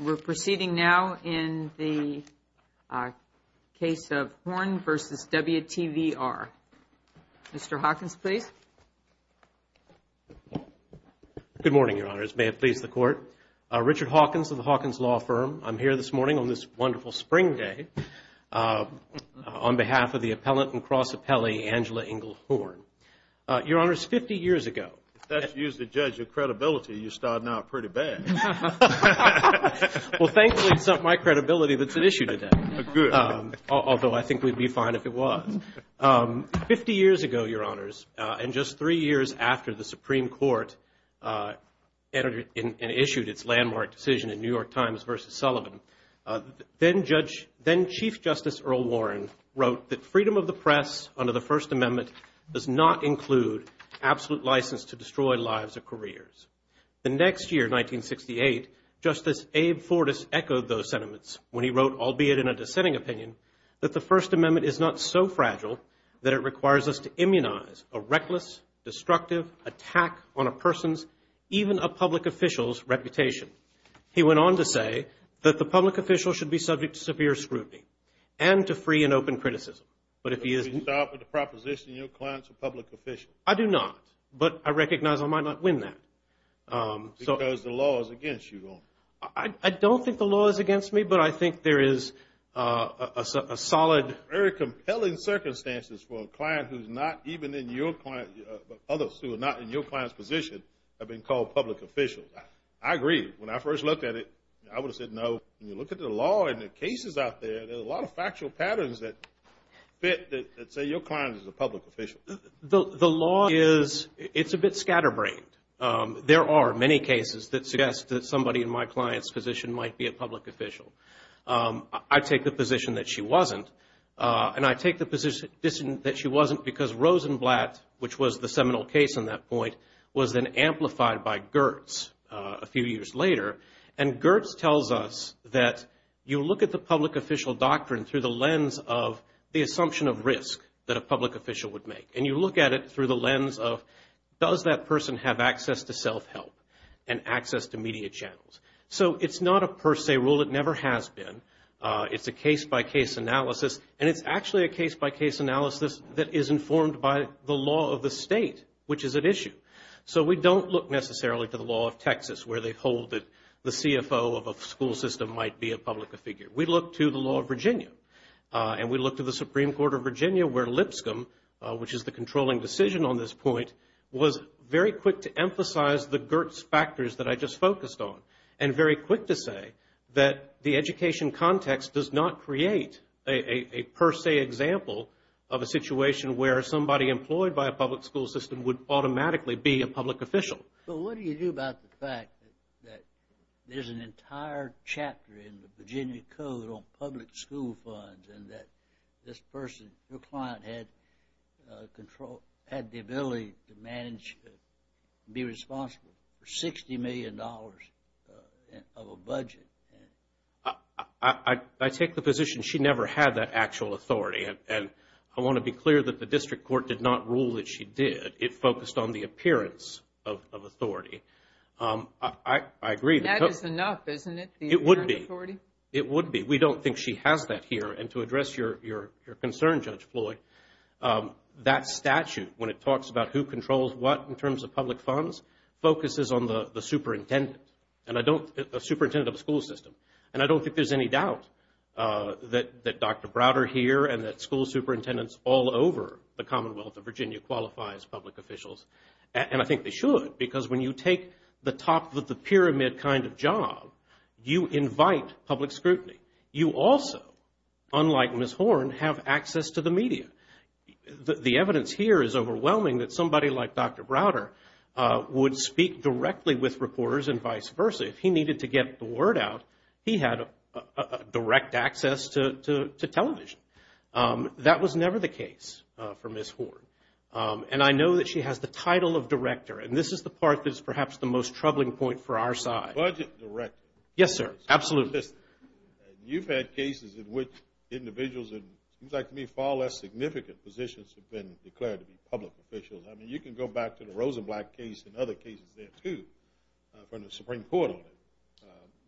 We're proceeding now in the case of Horne v. WTVR. Mr. Hawkins, please. Good morning, Your Honors. May it please the Court. Richard Hawkins of the Hawkins Law Firm. I'm here this morning on this wonderful spring day on behalf of the appellant and cross appellee, Angela Ingle Horne. Your Honors, 50 years ago… If that's used to judge your credibility, you're starting out pretty bad. Well, thankfully, it's not my credibility that's at issue today. Good. Although I think we'd be fine if it was. Fifty years ago, Your Honors, and just three years after the Supreme Court entered and issued its landmark decision in New York Times v. Sullivan, then-Chief Justice Earl Warren wrote that freedom of the press under the First Amendment does not include absolute license to destroy lives or careers. The next year, 1968, Justice Abe Fortas echoed those sentiments when he wrote, albeit in a dissenting opinion, that the First Amendment is not so fragile that it requires us to immunize a reckless, destructive attack on a person's, even a public official's, reputation. He went on to say that the public official should be subject to severe scrutiny and to free and open criticism. But if he isn't… Does he stop at the proposition your client's a public official? I do not. But I recognize I might not win that. Because the law is against you, Your Honor. I don't think the law is against me, but I think there is a solid… have been called public officials. I agree. When I first looked at it, I would have said no. When you look at the law and the cases out there, there are a lot of factual patterns that fit that say your client is a public official. The law is, it's a bit scatterbrained. There are many cases that suggest that somebody in my client's position might be a public official. I take the position that she wasn't. And I take the position that she wasn't because Rosenblatt, which was the seminal case in that point, was then amplified by Gertz a few years later. And Gertz tells us that you look at the public official doctrine through the lens of the assumption of risk that a public official would make. And you look at it through the lens of does that person have access to self-help and access to media channels. So it's not a per se rule. It never has been. It's a case-by-case analysis. And it's actually a case-by-case analysis that is informed by the law of the state, which is at issue. So we don't look necessarily to the law of Texas where they hold that the CFO of a school system might be a public figure. We look to the law of Virginia. And we look to the Supreme Court of Virginia where Lipscomb, which is the controlling decision on this point, was very quick to emphasize the Gertz factors that I just focused on and very quick to say that the education context does not create a per se example of a situation where somebody employed by a public school system would automatically be a public official. But what do you do about the fact that there's an entire chapter in the Virginia Code on public school funds and that this person, your client, had the ability to manage and be responsible for $60 million of a budget? I take the position she never had that actual authority. And I want to be clear that the district court did not rule that she did. It focused on the appearance of authority. I agree. That is enough, isn't it? It would be. The apparent authority? It would be. We don't think she has that here. And to address your concern, Judge Floyd, that statute, when it talks about who controls what in terms of public funds, focuses on the superintendent of the school system. And I don't think there's any doubt that Dr. Browder here and that school superintendents all over the Commonwealth of Virginia qualify as public officials. And I think they should because when you take the top of the pyramid kind of job, you invite public scrutiny. You also, unlike Ms. Horn, have access to the media. The evidence here is overwhelming that somebody like Dr. Browder would speak directly with reporters and vice versa. If he needed to get the word out, he had direct access to television. That was never the case for Ms. Horn. And I know that she has the title of director, and this is the part that is perhaps the most troubling point for our side. Budget director. Yes, sir. Absolutely. You've had cases in which individuals in, it seems like to me, far less significant positions have been declared to be public officials. I mean, you can go back to the Rosenblatt case and other cases there, too, from the Supreme Court on it.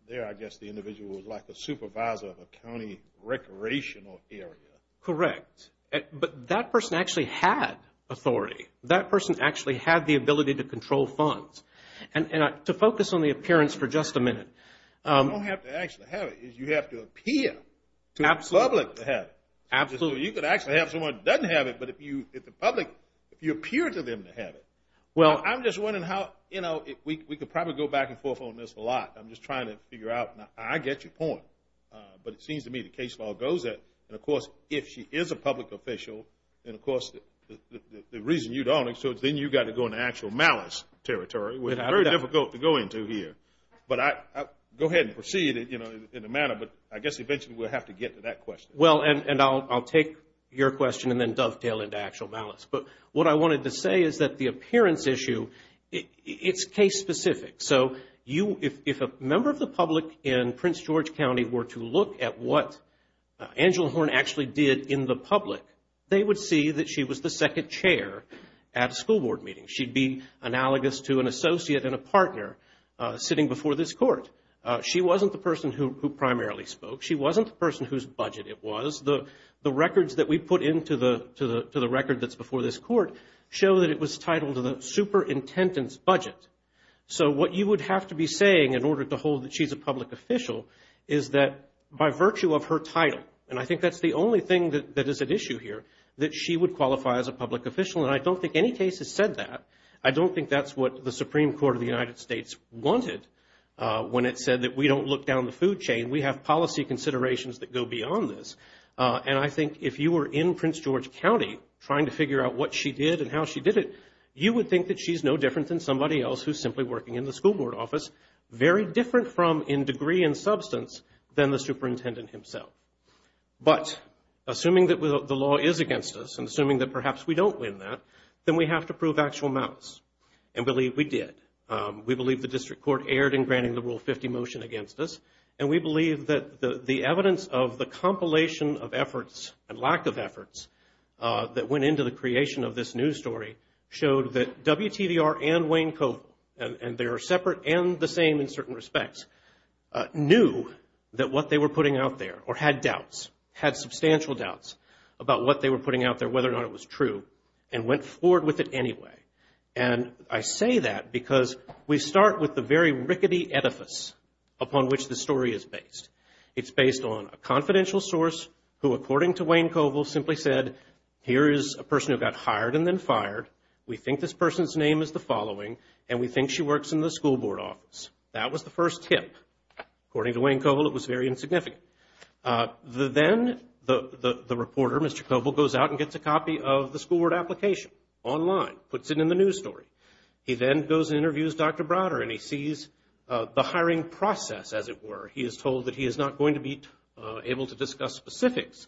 There, I guess, the individual was like the supervisor of a county recreational area. Correct. But that person actually had authority. That person actually had the ability to control funds. And to focus on the appearance for just a minute. You don't have to actually have it. You have to appear to the public to have it. Absolutely. You could actually have someone who doesn't have it, but if the public, if you appear to them to have it. Well, I'm just wondering how, you know, we could probably go back and forth on this a lot. I'm just trying to figure out. Now, I get your point. But it seems to me the case law goes that. And, of course, if she is a public official, then, of course, the reason you don't, then you've got to go into actual malice territory, which is very difficult to go into here. But go ahead and proceed in a manner. But I guess eventually we'll have to get to that question. Well, and I'll take your question and then dovetail into actual malice. But what I wanted to say is that the appearance issue, it's case specific. So if a member of the public in Prince George County were to look at what Angela Horn actually did in the public, they would see that she was the second chair at a school board meeting. She'd be analogous to an associate and a partner sitting before this court. She wasn't the person who primarily spoke. She wasn't the person whose budget it was. The records that we put into the record that's before this court show that it was titled the superintendent's budget. So what you would have to be saying in order to hold that she's a public official is that by virtue of her title, and I think that's the only thing that is at issue here, that she would qualify as a public official. And I don't think any case has said that. I don't think that's what the Supreme Court of the United States wanted when it said that we don't look down the food chain. We have policy considerations that go beyond this. And I think if you were in Prince George County trying to figure out what she did and how she did it, you would think that she's no different than somebody else who's simply working in the school board office, very different from in degree and substance than the superintendent himself. But assuming that the law is against us and assuming that perhaps we don't win that, then we have to prove actual malice. And believe we did. We believe the district court erred in granting the Rule 50 motion against us, and we believe that the evidence of the compilation of efforts and lack of efforts that went into the creation of this news story showed that WTVR and Wayne Covill, and they are separate and the same in certain respects, knew that what they were putting out there, or had doubts, had substantial doubts, about what they were putting out there, whether or not it was true, and went forward with it anyway. And I say that because we start with the very rickety edifice upon which the story is based. It's based on a confidential source who, according to Wayne Covill, simply said, here is a person who got hired and then fired. We think this person's name is the following, and we think she works in the school board office. That was the first tip. According to Wayne Covill, it was very insignificant. Then the reporter, Mr. Covill, goes out and gets a copy of the school board application online, puts it in the news story. He then goes and interviews Dr. Browder, and he sees the hiring process, as it were. He is told that he is not going to be able to discuss specifics,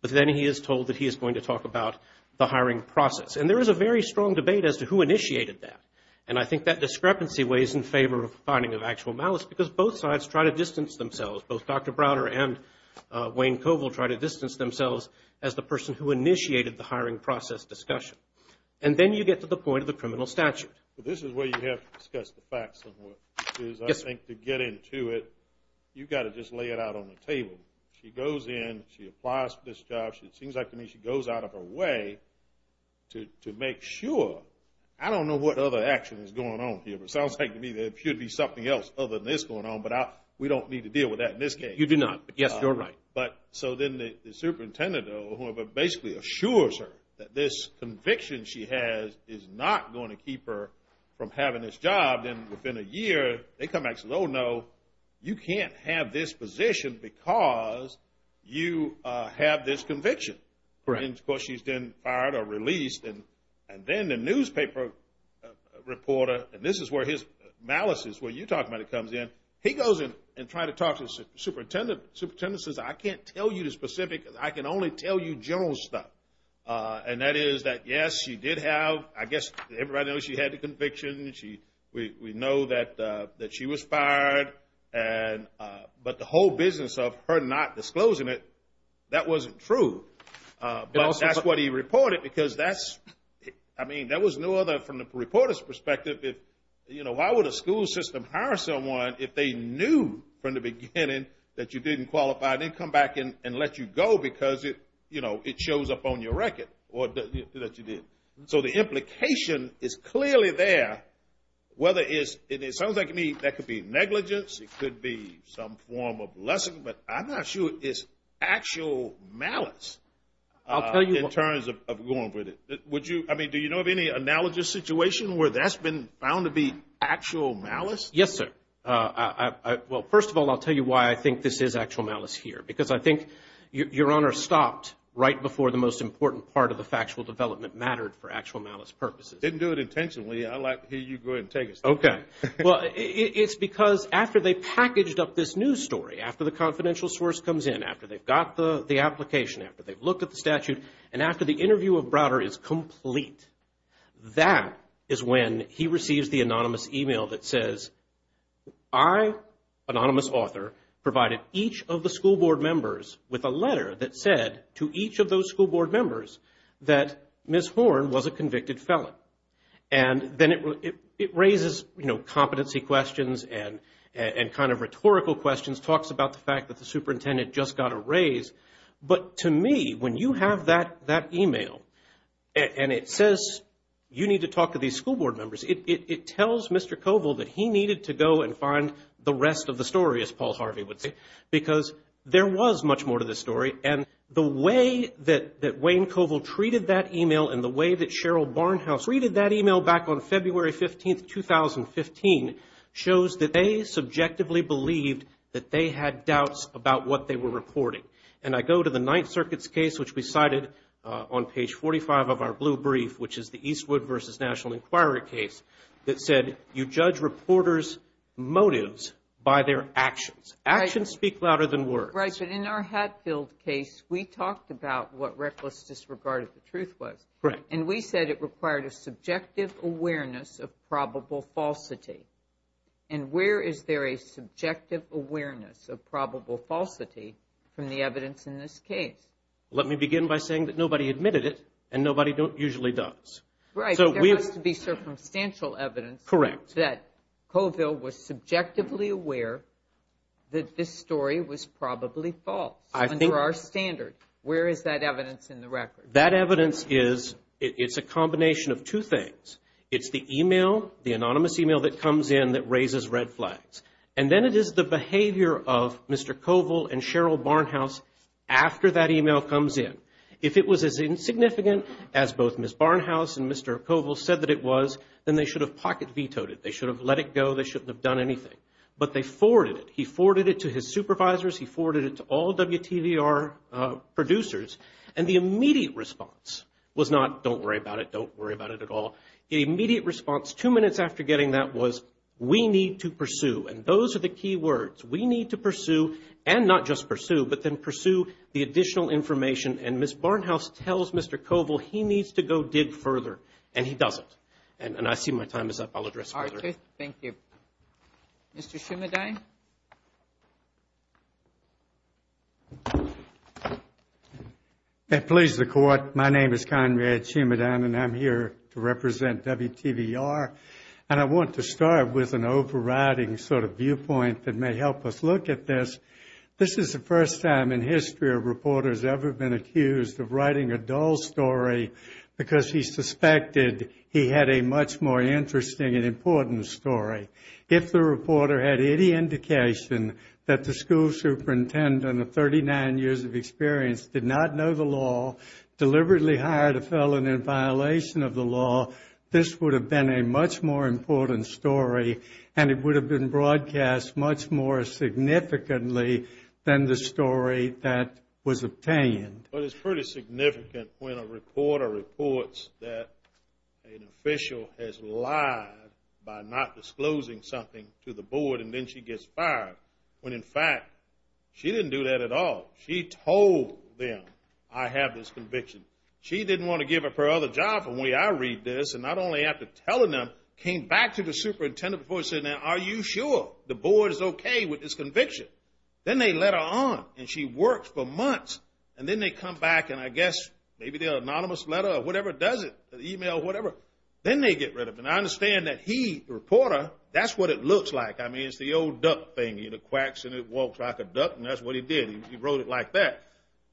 but then he is told that he is going to talk about the hiring process. And there is a very strong debate as to who initiated that, and I think that discrepancy weighs in favor of finding of actual malice because both sides try to distance themselves. Both Dr. Browder and Wayne Covill try to distance themselves as the person who initiated the hiring process discussion. And then you get to the point of the criminal statute. This is where you have to discuss the facts somewhat. I think to get into it, you've got to just lay it out on the table. She goes in. She applies for this job. It seems like to me she goes out of her way to make sure. I don't know what other action is going on here, but it sounds like to me there should be something else other than this going on, but we don't need to deal with that in this case. You do not, but yes, you're right. So then the superintendent or whoever basically assures her that this conviction she has is not going to keep her from having this job. Then within a year they come back and say, oh, no, you can't have this position because you have this conviction. And of course she's then fired or released. And then the newspaper reporter, and this is where his malice is, where you talk about it, comes in. He goes in and tries to talk to the superintendent. The superintendent says, I can't tell you the specifics. I can only tell you general stuff. And that is that, yes, she did have, I guess everybody knows she had the conviction. We know that she was fired, but the whole business of her not disclosing it, that wasn't true. But that's what he reported because that's, I mean, that was no other from the reporter's perspective. Why would a school system hire someone if they knew from the beginning that you didn't qualify and then come back and let you go because it shows up on your record that you did? So the implication is clearly there, whether it sounds like to me that could be negligence, it could be some form of blessing, but I'm not sure it's actual malice in terms of going with it. I mean, do you know of any analogous situation where that's been found to be actual malice? Yes, sir. Well, first of all, I'll tell you why I think this is actual malice here, because I think Your Honor stopped right before the most important part of the factual development mattered for actual malice purposes. Didn't do it intentionally. I'd like to hear you go ahead and take us there. Okay. Well, it's because after they packaged up this news story, after the confidential source comes in, after they've got the application, after they've looked at the statute, and after the interview of Browder is complete, that is when he receives the anonymous email that says, I, anonymous author, provided each of the school board members with a letter that said to each of those school board members that Ms. Horn was a convicted felon. And then it raises competency questions and kind of rhetorical questions, talks about the fact that the superintendent just got a raise. But to me, when you have that email and it says you need to talk to these school board members, it tells Mr. Koval that he needed to go and find the rest of the story, as Paul Harvey would say, because there was much more to this story. And the way that Wayne Koval treated that email and the way that Cheryl Barnhouse treated that email back on February 15, 2015 shows that they subjectively believed that they had doubts about what they were reporting. And I go to the Ninth Circuit's case, which we cited on page 45 of our blue brief, which is the Eastwood v. National Inquiry case, that said you judge reporters' motives by their actions. Actions speak louder than words. Right, but in our Hatfield case, we talked about what reckless disregard of the truth was. Correct. And we said it required a subjective awareness of probable falsity. And where is there a subjective awareness of probable falsity from the evidence in this case? Let me begin by saying that nobody admitted it and nobody usually does. Right. There has to be circumstantial evidence that Koval was subjectively aware that this story was probably false under our standard. Where is that evidence in the record? That evidence is a combination of two things. It's the email, the anonymous email that comes in that raises red flags. And then it is the behavior of Mr. Koval and Cheryl Barnhouse after that email comes in. If it was as insignificant as both Ms. Barnhouse and Mr. Koval said that it was, then they should have pocket vetoed it. They should have let it go. They shouldn't have done anything. But they forwarded it. He forwarded it to his supervisors. He forwarded it to all WTVR producers. And the immediate response was not, don't worry about it, don't worry about it at all. The immediate response two minutes after getting that was, we need to pursue. And those are the key words. We need to pursue, and not just pursue, but then pursue the additional information. And Ms. Barnhouse tells Mr. Koval he needs to go dig further. And he doesn't. And I see my time is up. I'll address further. Thank you. Mr. Chimadain. Please, the Court. My name is Conrad Chimadain, and I'm here to represent WTVR. And I want to start with an overriding sort of viewpoint that may help us look at this. This is the first time in history a reporter has ever been accused of writing a dull story because he suspected he had a much more interesting and important story. If the reporter had any indication that the school superintendent of 39 years of experience did not know the law, deliberately hired a felon in violation of the law, this would have been a much more important story, and it would have been broadcast much more significantly than the story that was obtained. Well, it's pretty significant when a reporter reports that an official has lied by not disclosing something to the board, and then she gets fired, when, in fact, she didn't do that at all. She told them, I have this conviction. She didn't want to give up her other job. The way I read this, and not only after telling them, came back to the superintendent before saying, Now, are you sure the board is okay with this conviction? Then they let her on, and she worked for months. And then they come back, and I guess maybe their anonymous letter or whatever does it, an email or whatever. Then they get rid of her. And I understand that he, the reporter, that's what it looks like. I mean, it's the old duck thing. It quacks and it walks like a duck, and that's what he did. He wrote it like that.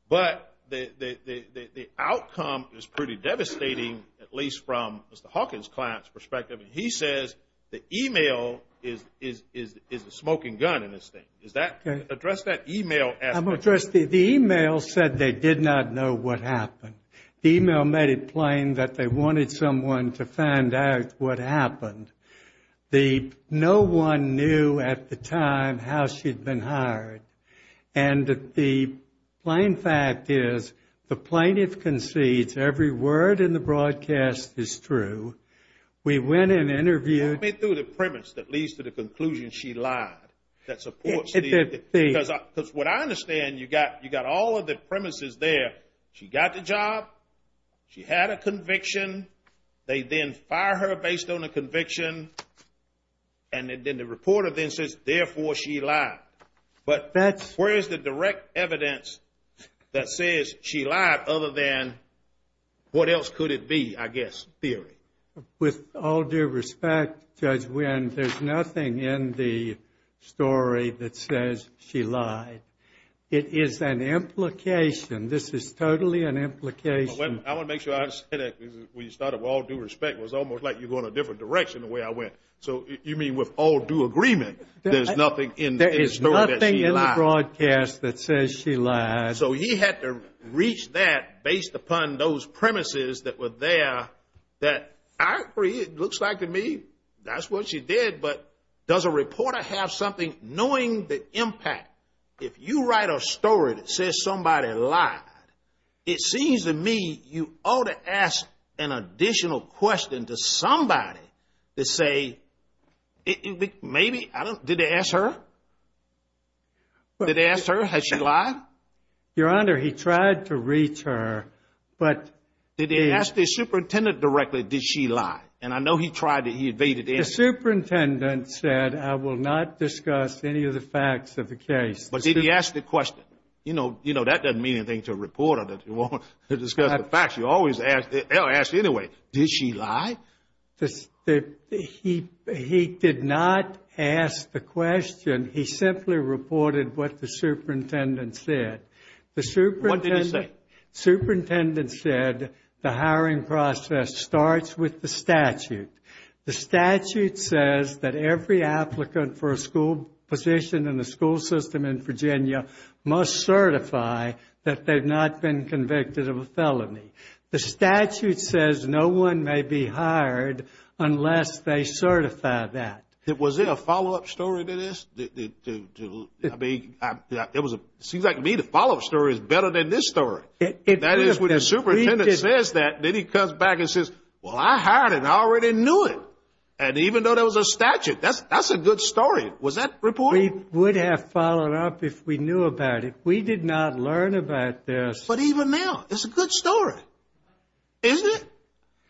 But the outcome is pretty devastating, at least from Mr. Hawkins' client's perspective. He says the email is the smoking gun in this thing. Address that email aspect. The email said they did not know what happened. The email made it plain that they wanted someone to find out what happened. No one knew at the time how she'd been hired. And the plain fact is the plaintiff concedes every word in the broadcast is true. We went and interviewed. Walk me through the premise that leads to the conclusion she lied. Because what I understand, you've got all of the premises there. She got the job. She had a conviction. They then fire her based on the conviction. And then the reporter then says, Therefore, she lied. But where is the direct evidence that says she lied other than what else could it be, I guess, theory? With all due respect, Judge Wynn, there's nothing in the story that says she lied. It is an implication. This is totally an implication. I want to make sure I understand that. When you started with all due respect, it was almost like you're going a different direction the way I went. So you mean with all due agreement, there's nothing in the story that she lied? There is nothing in the broadcast that says she lied. So he had to reach that based upon those premises that were there that I agree it looks like to me that's what she did. But does a reporter have something knowing the impact? If you write a story that says somebody lied, it seems to me you ought to ask an additional question to somebody to say maybe, did they ask her? Did they ask her, has she lied? Your Honor, he tried to reach her. Did they ask the superintendent directly, did she lie? And I know he tried to evade it. The superintendent said, I will not discuss any of the facts of the case. But did he ask the question? You know, that doesn't mean anything to a reporter that you won't discuss the facts. They'll ask you anyway, did she lie? He did not ask the question. He simply reported what the superintendent said. What did he say? The superintendent said the hiring process starts with the statute. The statute says that every applicant for a school position in the school system in Virginia must certify that they've not been convicted of a felony. The statute says no one may be hired unless they certify that. Was there a follow-up story to this? It seems like to me the follow-up story is better than this story. That is, when the superintendent says that, then he comes back and says, well, I hired her and I already knew it. And even though there was a statute, that's a good story. Was that reported? We would have followed up if we knew about it. We did not learn about this. But even now, it's a good story, isn't it?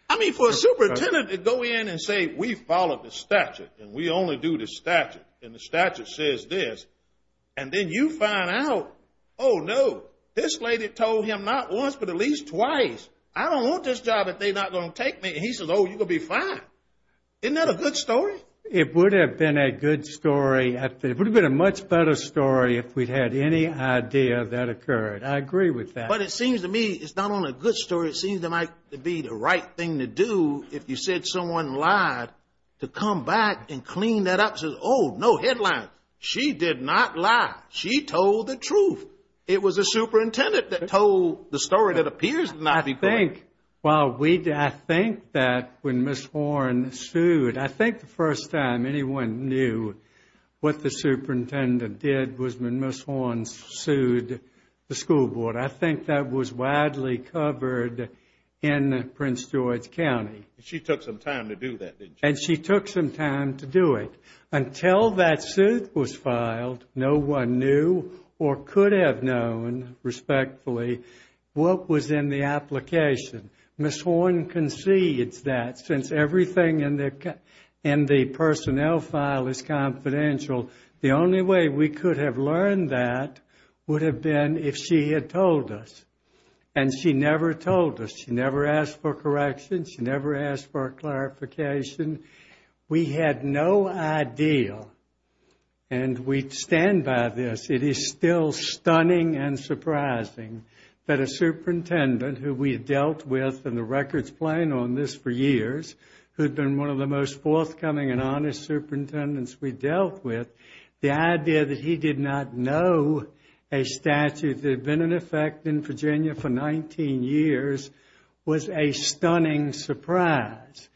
I mean, for a superintendent to go in and say we followed the statute and we only do the statute and the statute says this, and then you find out, oh, no, this lady told him not once but at least twice. I don't want this job if they're not going to take me. And he says, oh, you're going to be fine. Isn't that a good story? It would have been a good story. It would have been a much better story if we'd had any idea that occurred. I agree with that. But it seems to me it's not only a good story, it seems it might be the right thing to do if you said someone lied, to come back and clean that up and say, oh, no headlines. She did not lie. She told the truth. It was the superintendent that told the story that appears not to be correct. I think that when Ms. Horne sued, I think the first time anyone knew what the superintendent did was when Ms. Horne sued the school board. I think that was widely covered in Prince George County. She took some time to do that, didn't she? And she took some time to do it. Until that suit was filed, no one knew or could have known, respectfully, what was in the application. Ms. Horne concedes that since everything in the personnel file is confidential, the only way we could have learned that would have been if she had told us. And she never told us. She never asked for correction. She never asked for a clarification. We had no idea. And we stand by this. It is still stunning and surprising that a superintendent who we dealt with, and the record's playing on this for years, who had been one of the most forthcoming and honest superintendents we dealt with, the idea that he did not know a statute that had been in effect in Virginia for 19 years was a stunning surprise.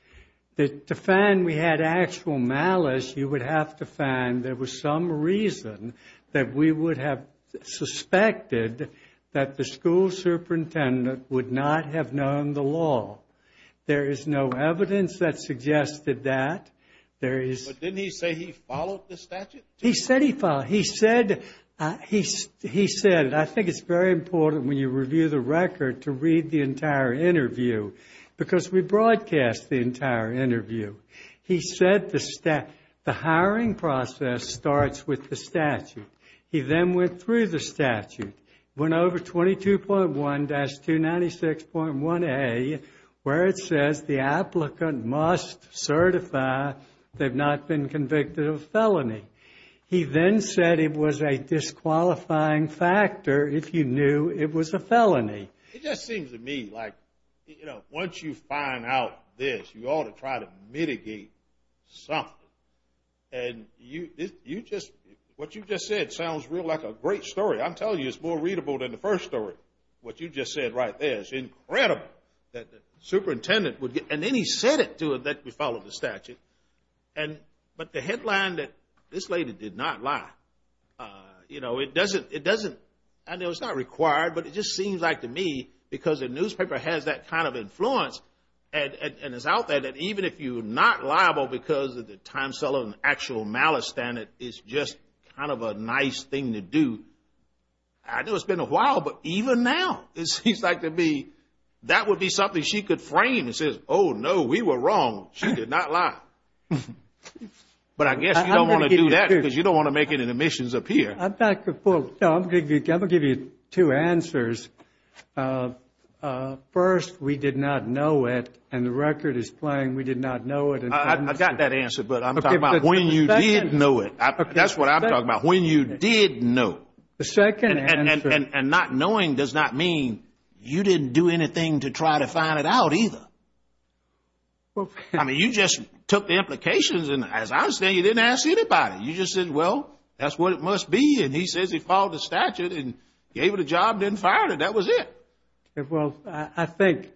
To find we had actual malice, you would have to find there was some reason that we would have suspected that the school superintendent would not have known the law. There is no evidence that suggested that. But didn't he say he followed the statute? He said he followed. He said, I think it's very important when you review the record to read the entire interview because we broadcast the entire interview. He said the hiring process starts with the statute. He then went through the statute, went over 22.1-296.1A, where it says the applicant must certify they've not been convicted of felony. He then said it was a disqualifying factor if you knew it was a felony. It just seems to me like, you know, once you find out this, you ought to try to mitigate something. And what you just said sounds real like a great story. I'm telling you, it's more readable than the first story. What you just said right there is incredible that the superintendent would get and then he said it to it that we followed the statute. But the headline that this lady did not lie, you know, it doesn't, I know it's not required but it just seems like to me because the newspaper has that kind of influence and is out there that even if you're not liable because of the time cell and actual malice standard, it's just kind of a nice thing to do. I know it's been a while but even now it seems like to me that would be something she could frame that says, oh, no, we were wrong, she did not lie. But I guess you don't want to do that because you don't want to make any omissions appear. I'm back to full. I'm going to give you two answers. First, we did not know it and the record is playing we did not know it. I got that answer but I'm talking about when you did know it. That's what I'm talking about, when you did know. The second answer. And not knowing does not mean you didn't do anything to try to find it out either. I mean, you just took the implications and as I understand you didn't ask anybody. You just said, well, that's what it must be and he says he followed the statute and gave it a job and didn't find it, that was it. Well, I think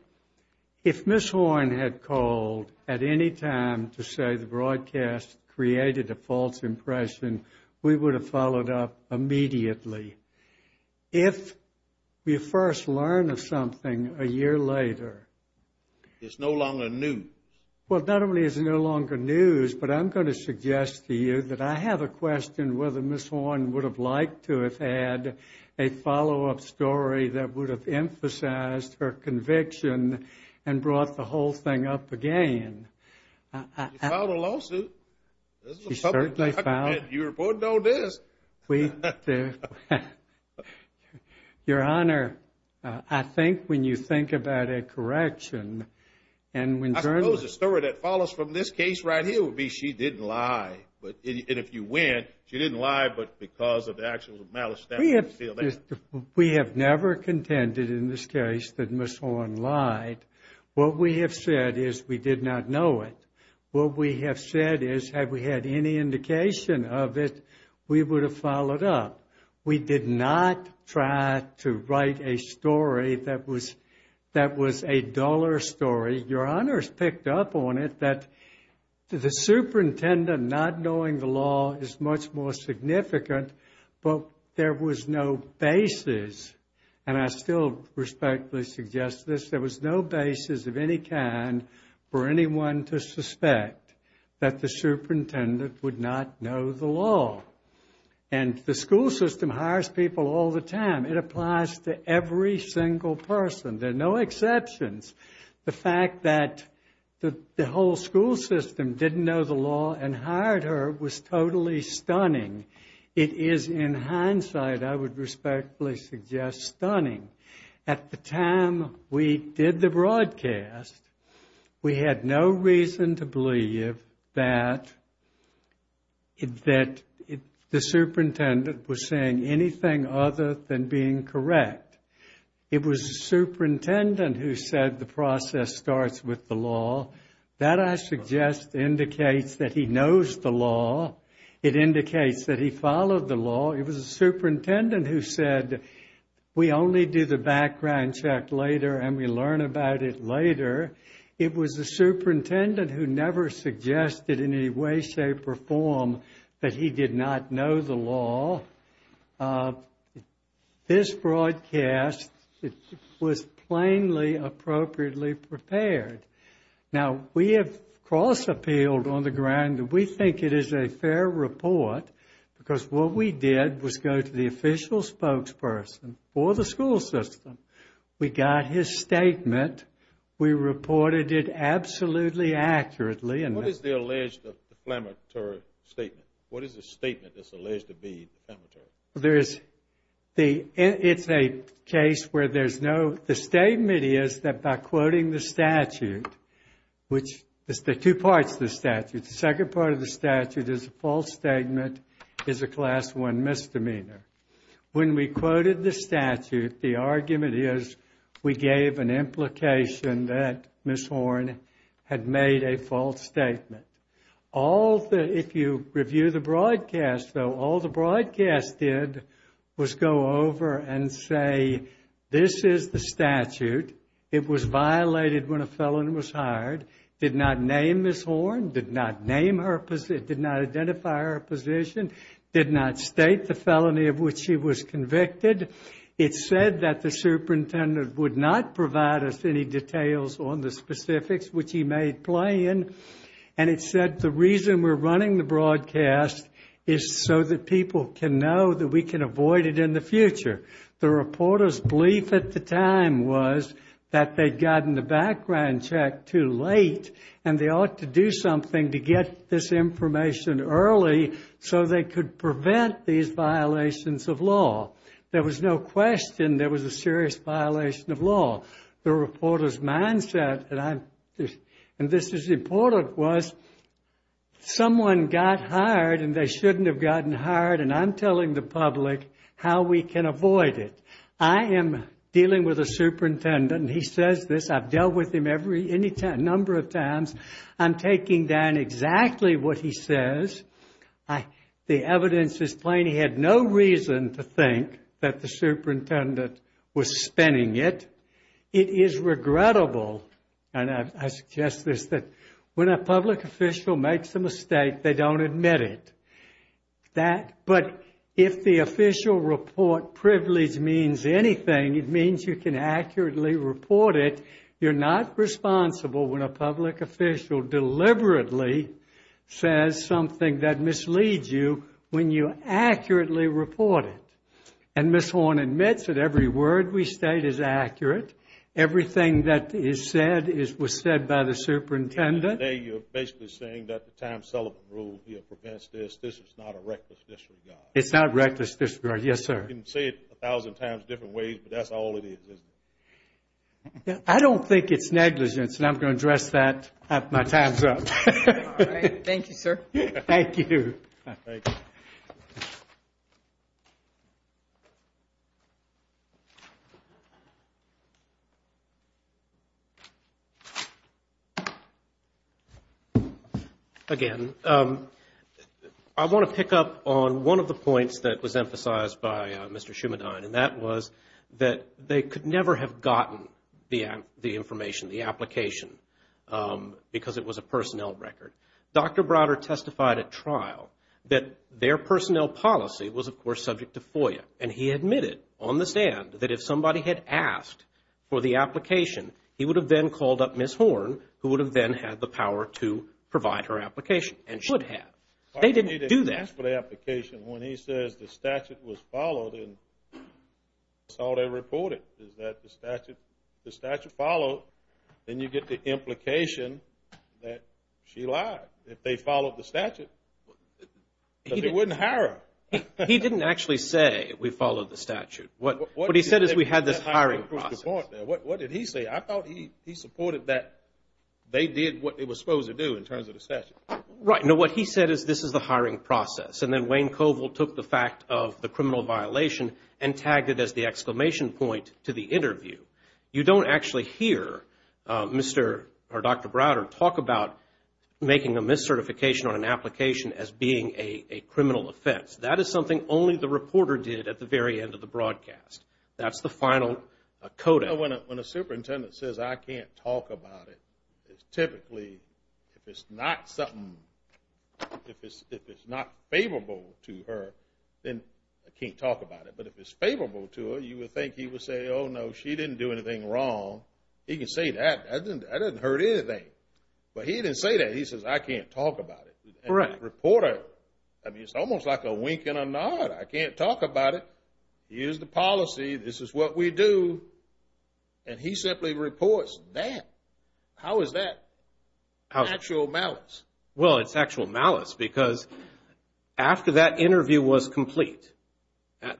if Ms. Horn had called at any time to say the broadcast created a false impression, we would have followed up immediately. If we first learn of something a year later. It's no longer news. Well, not only is it no longer news but I'm going to suggest to you that I have a question whether Ms. Horn would have liked to have had a follow-up story that would have emphasized her conviction and brought the whole thing up again. She filed a lawsuit. She certainly filed. You reported on this. Your Honor, I think when you think about a correction and when journalists. I suppose a story that follows from this case right here would be she didn't lie. And if you win, she didn't lie but because of the actual malice. We have never contended in this case that Ms. Horn lied. What we have said is we did not know it. What we have said is had we had any indication of it, we would have followed up. We did not try to write a story that was a duller story. Your Honor has picked up on it that the superintendent not knowing the law is much more significant but there was no basis and I still respectfully suggest this. There was no basis of any kind for anyone to suspect that the superintendent would not know the law. And the school system hires people all the time. It applies to every single person. There are no exceptions. The fact that the whole school system didn't know the law and hired her was totally stunning. It is in hindsight I would respectfully suggest stunning. At the time we did the broadcast, we had no reason to believe that the superintendent was saying anything other than being correct. It was the superintendent who said the process starts with the law. That I suggest indicates that he knows the law. It indicates that he followed the law. It was the superintendent who said we only do the background check later and we learn about it later. It was the superintendent who never suggested in any way, shape, or form that he did not know the law. This broadcast was plainly appropriately prepared. Now, we have cross-appealed on the ground that we think it is a fair report because what we did was go to the official spokesperson for the school system. We got his statement. We reported it absolutely accurately. What is the alleged defamatory statement? What is the statement that's alleged to be defamatory? It's a case where there's no The statement is that by quoting the statute, which there are two parts to the statute. The second part of the statute is a false statement is a Class I misdemeanor. When we quoted the statute, the argument is we gave an implication that Ms. Horn had made a false statement. If you review the broadcast, though, all the broadcast did was go over and say this is the statute. It was violated when a felon was hired, did not name Ms. Horn, did not identify her position, did not state the felony of which she was convicted. It said that the superintendent would not provide us any details on the specifics which he made plain. And it said the reason we're running the broadcast is so that people can know that we can avoid it in the future. The reporter's belief at the time was that they'd gotten the background check too late and they ought to do something to get this information early so they could prevent these violations of law. There was no question there was a serious violation of law. The reporter's mindset, and this is important, was someone got hired and they shouldn't have gotten hired and I'm telling the public how we can avoid it. I am dealing with a superintendent and he says this. I've dealt with him a number of times. I'm taking down exactly what he says. The evidence is plain. He had no reason to think that the superintendent was spinning it. It is regrettable, and I suggest this, that when a public official makes a mistake, they don't admit it. But if the official report privilege means anything, it means you can accurately report it. You're not responsible when a public official deliberately says something that misleads you when you accurately report it. And Ms. Horne admits that every word we state is accurate. Everything that is said was said by the superintendent. Today you're basically saying that the time cell rule here prevents this. This is not a reckless disregard. It's not a reckless disregard, yes, sir. You can say it a thousand times different ways, but that's all it is, isn't it? I don't think it's negligence, and I'm going to address that after my time's up. All right. Thank you, sir. Thank you. Thank you. Again, I want to pick up on one of the points that was emphasized by Mr. Schumann, and that was that they could never have gotten the information, the application, because it was a personnel record. Dr. Browder testified at trial that their personnel policy was, of course, subject to FOIA, and he admitted on the stand that if somebody had asked for the application, he would have then called up Ms. Horne, who would have then had the power to provide her application, and should have. They didn't do that. When he says the statute was followed, and that's all they reported, is that the statute followed, then you get the implication that she lied, that they followed the statute, because they wouldn't hire her. He didn't actually say we followed the statute. What he said is we had this hiring process. What did he say? I thought he supported that they did what they were supposed to do in terms of the statute. Right. No, what he said is this is the hiring process, and then Wayne Covell took the fact of the criminal violation and tagged it as the exclamation point to the interview. You don't actually hear Dr. Browder talk about making a miscertification on an application as being a criminal offense. That is something only the reporter did at the very end of the broadcast. That's the final coding. You know, when a superintendent says, I can't talk about it, it's typically if it's not something, if it's not favorable to her, then I can't talk about it. But if it's favorable to her, you would think he would say, oh, no, she didn't do anything wrong. He can say that. That doesn't hurt anything. But he didn't say that. He says, I can't talk about it. And the reporter, it's almost like a wink and a nod. I can't talk about it. Here's the policy. This is what we do. And he simply reports that. How is that actual malice? Well, it's actual malice because after that interview was complete,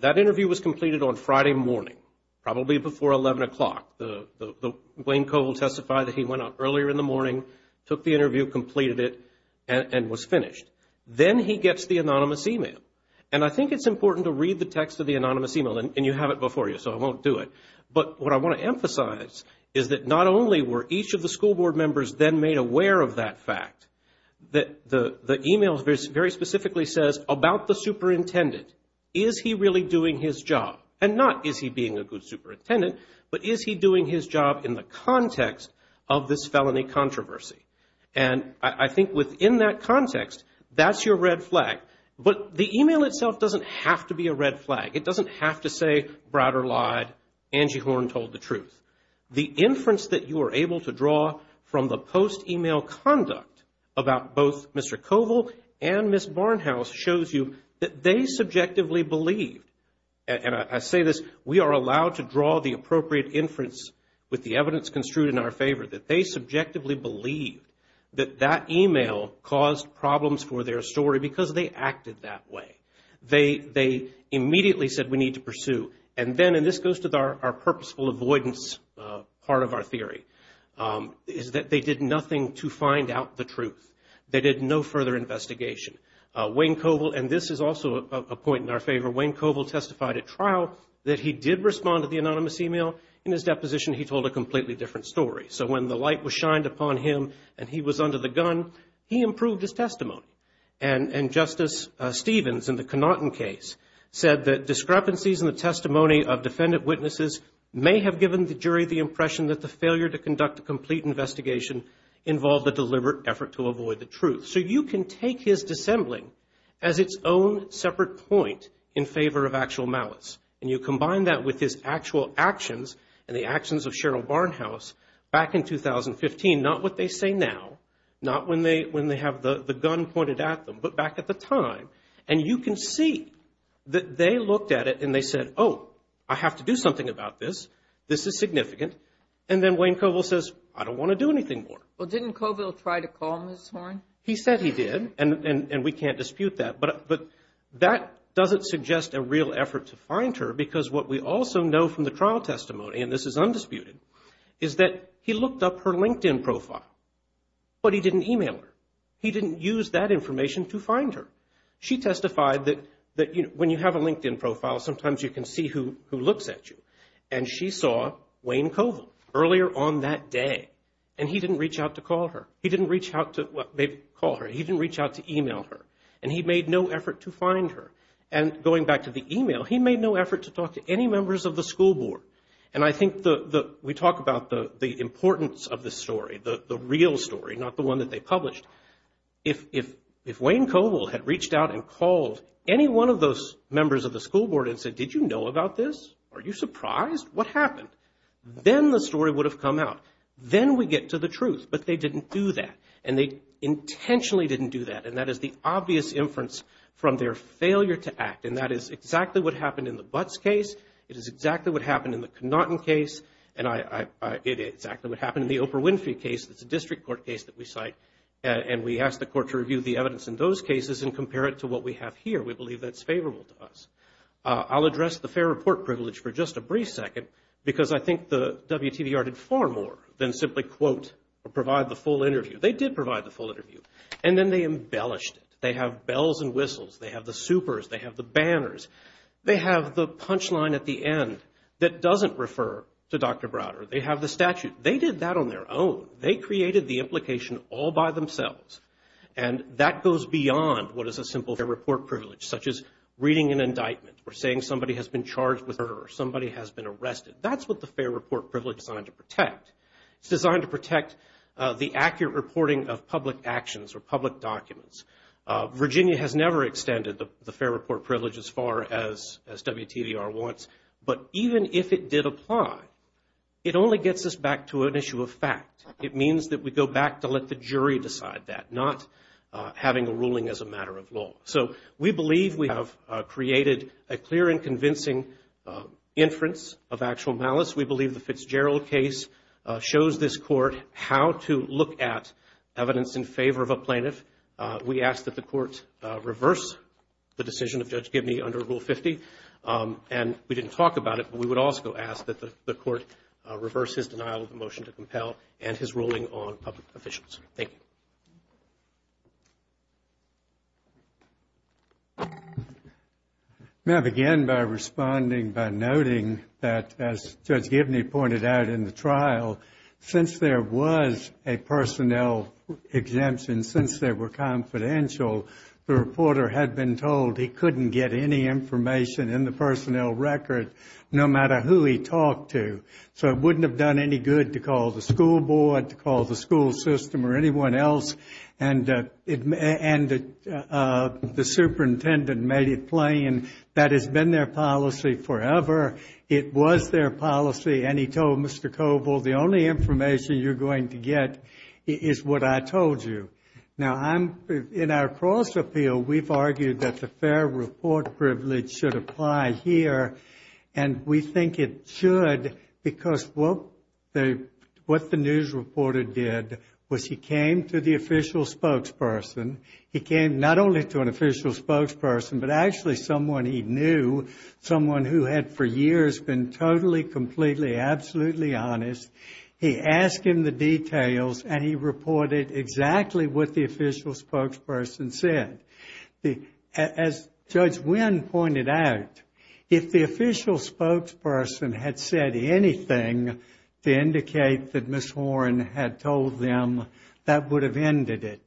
that interview was completed on Friday morning, probably before 11 o'clock. Wayne Covell testified that he went up earlier in the morning, took the interview, completed it, and was finished. Then he gets the anonymous e-mail. And I think it's important to read the text of the anonymous e-mail. And you have it before you, so I won't do it. But what I want to emphasize is that not only were each of the school board members then made aware of that fact, the e-mail very specifically says, about the superintendent, is he really doing his job? And not is he being a good superintendent, but is he doing his job in the context of this felony controversy? And I think within that context, that's your red flag. But the e-mail itself doesn't have to be a red flag. It doesn't have to say, Browder lied, Angie Horn told the truth. The inference that you are able to draw from the post-e-mail conduct about both Mr. Covell and Ms. Barnhouse shows you that they subjectively believed, and I say this, we are allowed to draw the appropriate inference with the evidence construed in our favor, that they subjectively believed that that e-mail caused problems for their story because they acted that way. They immediately said, we need to pursue. And then, and this goes to our purposeful avoidance part of our theory, is that they did nothing to find out the truth. They did no further investigation. Wayne Covell, and this is also a point in our favor, Wayne Covell testified at trial that he did respond to the anonymous e-mail. In his deposition, he told a completely different story. So when the light was shined upon him and he was under the gun, he improved his testimony. And Justice Stevens, in the Connaughton case, said that discrepancies in the testimony of defendant witnesses may have given the jury the impression that the failure to conduct a complete investigation involved a deliberate effort to avoid the truth. So you can take his dissembling as its own separate point in favor of actual malice, and you combine that with his actual actions and the actions of Cheryl Barnhouse back in 2015, not what they say now, not when they have the gun pointed at them, but back at the time. And you can see that they looked at it and they said, oh, I have to do something about this. This is significant. And then Wayne Covell says, I don't want to do anything more. Well, didn't Covell try to call Ms. Horn? He said he did, and we can't dispute that. But that doesn't suggest a real effort to find her because what we also know from the trial testimony, and this is undisputed, is that he looked up her LinkedIn profile, but he didn't e-mail her. He didn't use that information to find her. She testified that when you have a LinkedIn profile, sometimes you can see who looks at you. And she saw Wayne Covell earlier on that day, and he didn't reach out to call her. He didn't reach out to e-mail her, and he made no effort to find her. And going back to the e-mail, he made no effort to talk to any members of the school board. And I think we talk about the importance of the story, the real story, not the one that they published. If Wayne Covell had reached out and called any one of those members of the school board and said, did you know about this? Are you surprised? What happened? Then the story would have come out. Then we get to the truth. But they didn't do that, and they intentionally didn't do that, and that is the obvious inference from their failure to act, and that is exactly what happened in the Butts case. It is exactly what happened in the Connaughton case, and it is exactly what happened in the Oprah Winfrey case. It's a district court case that we cite, and we ask the court to review the evidence in those cases and compare it to what we have here. We believe that's favorable to us. I'll address the fair report privilege for just a brief second, because I think the WTBR did far more than simply quote or provide the full interview. They did provide the full interview, and then they embellished it. They have bells and whistles. They have the supers. They have the banners. They have the punchline at the end that doesn't refer to Dr. Browder. They have the statute. They did that on their own. They created the implication all by themselves, and that goes beyond what is a simple fair report privilege, such as reading an indictment or saying somebody has been charged with murder or somebody has been arrested. That's what the fair report privilege is designed to protect. It's designed to protect the accurate reporting of public actions or public documents. Virginia has never extended the fair report privilege as far as WTBR wants, but even if it did apply, it only gets us back to an issue of fact. It means that we go back to let the jury decide that, not having a ruling as a matter of law. So we believe we have created a clear and convincing inference of actual malice. We believe the Fitzgerald case shows this court how to look at evidence in favor of a plaintiff. We ask that the court reverse the decision of Judge Gibney under Rule 50, and we didn't talk about it, but we would also ask that the court reverse his denial of the motion to compel and his ruling on public officials. Thank you. May I begin by responding by noting that, as Judge Gibney pointed out in the trial, since there was a personnel exemption, since they were confidential, the reporter had been told he couldn't get any information in the personnel record, no matter who he talked to. So it wouldn't have done any good to call the school board, to call the school system or anyone else, and the superintendent made it plain that it's been their policy forever. It was their policy, and he told Mr. Coble, the only information you're going to get is what I told you. Now, in our cross-appeal, we've argued that the fair report privilege should apply here, and we think it should because what the news reporter did was he came to the official spokesperson. He came not only to an official spokesperson, but actually someone he knew, someone who had for years been totally, completely, absolutely honest. He asked him the details, and he reported exactly what the official spokesperson said. As Judge Wynn pointed out, if the official spokesperson had said anything to indicate that Ms. Horne had told them, that would have ended it.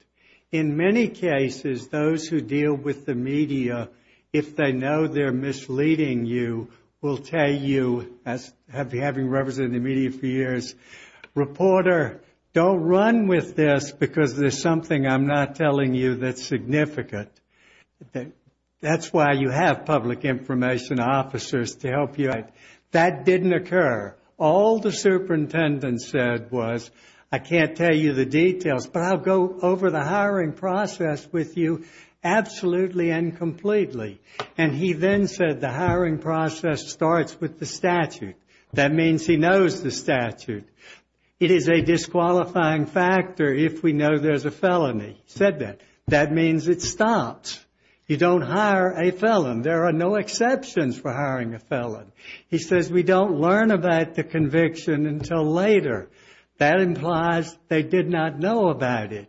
In many cases, those who deal with the media, if they know they're misleading you, will tell you, having represented the media for years, reporter, don't run with this because there's something I'm not telling you that's significant. That's why you have public information officers to help you. That didn't occur. All the superintendent said was, I can't tell you the details, but I'll go over the hiring process with you absolutely and completely. And he then said the hiring process starts with the statute. That means he knows the statute. It is a disqualifying factor if we know there's a felony. He said that. That means it stops. You don't hire a felon. There are no exceptions for hiring a felon. He says we don't learn about the conviction until later. That implies they did not know about it.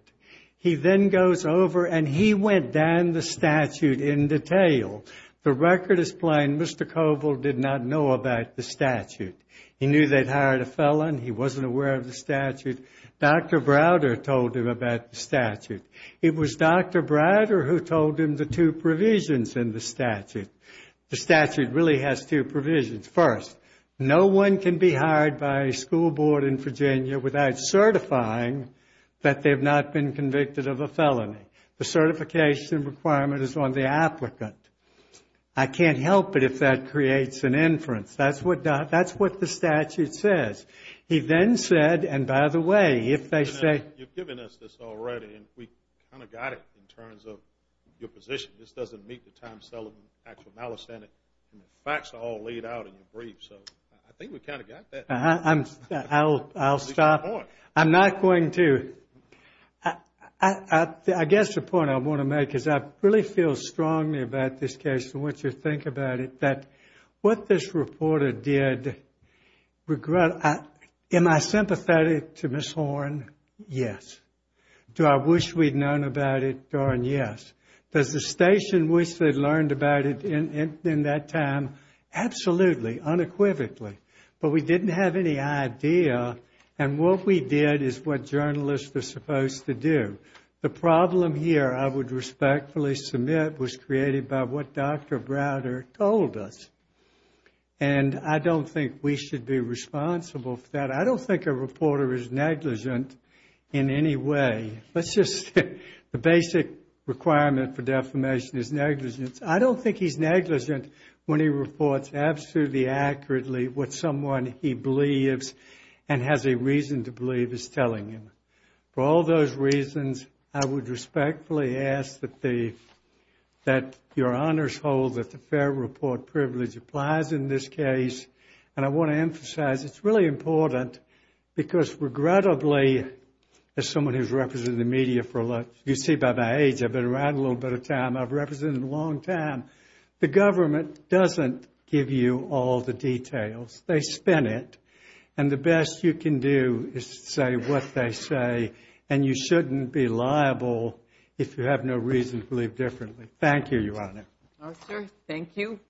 He then goes over and he went down the statute in detail. The record is plain. Mr. Coble did not know about the statute. He knew they'd hired a felon. He wasn't aware of the statute. Dr. Browder told him about the statute. It was Dr. Browder who told him the two provisions in the statute. The statute really has two provisions. First, no one can be hired by a school board in Virginia without certifying that they've not been convicted of a felony. The certification requirement is on the applicant. I can't help it if that creates an inference. That's what the statute says. He then said, and by the way, if they say you've given us this already and we kind of got it in terms of your position. This doesn't meet the time selling actual malice in it. The facts are all laid out in your brief. I think we kind of got that. I'll stop. I'm not going to. I guess the point I want to make is I really feel strongly about this case and want you to think about it, that what this reporter did regret. Am I sympathetic to Ms. Horne? Yes. Do I wish we'd known about it? Darn yes. Does the station wish they'd learned about it in that time? Absolutely, unequivocally, but we didn't have any idea, and what we did is what journalists are supposed to do. The problem here, I would respectfully submit, was created by what Dr. Browder told us, and I don't think we should be responsible for that. I don't think a reporter is negligent in any way. The basic requirement for defamation is negligence. I don't think he's negligent when he reports absolutely accurately what someone he believes and has a reason to believe is telling him. For all those reasons, I would respectfully ask that your honors hold that the fair report privilege applies in this case, and I want to emphasize it's really important because, regrettably, as someone who's represented the media for a lot, you see by my age, I've been around a little bit of time, I've represented a long time, the government doesn't give you all the details. They spin it, and the best you can do is say what they say, and you shouldn't be liable if you have no reason to believe differently. Thank you, Your Honor. Thank you.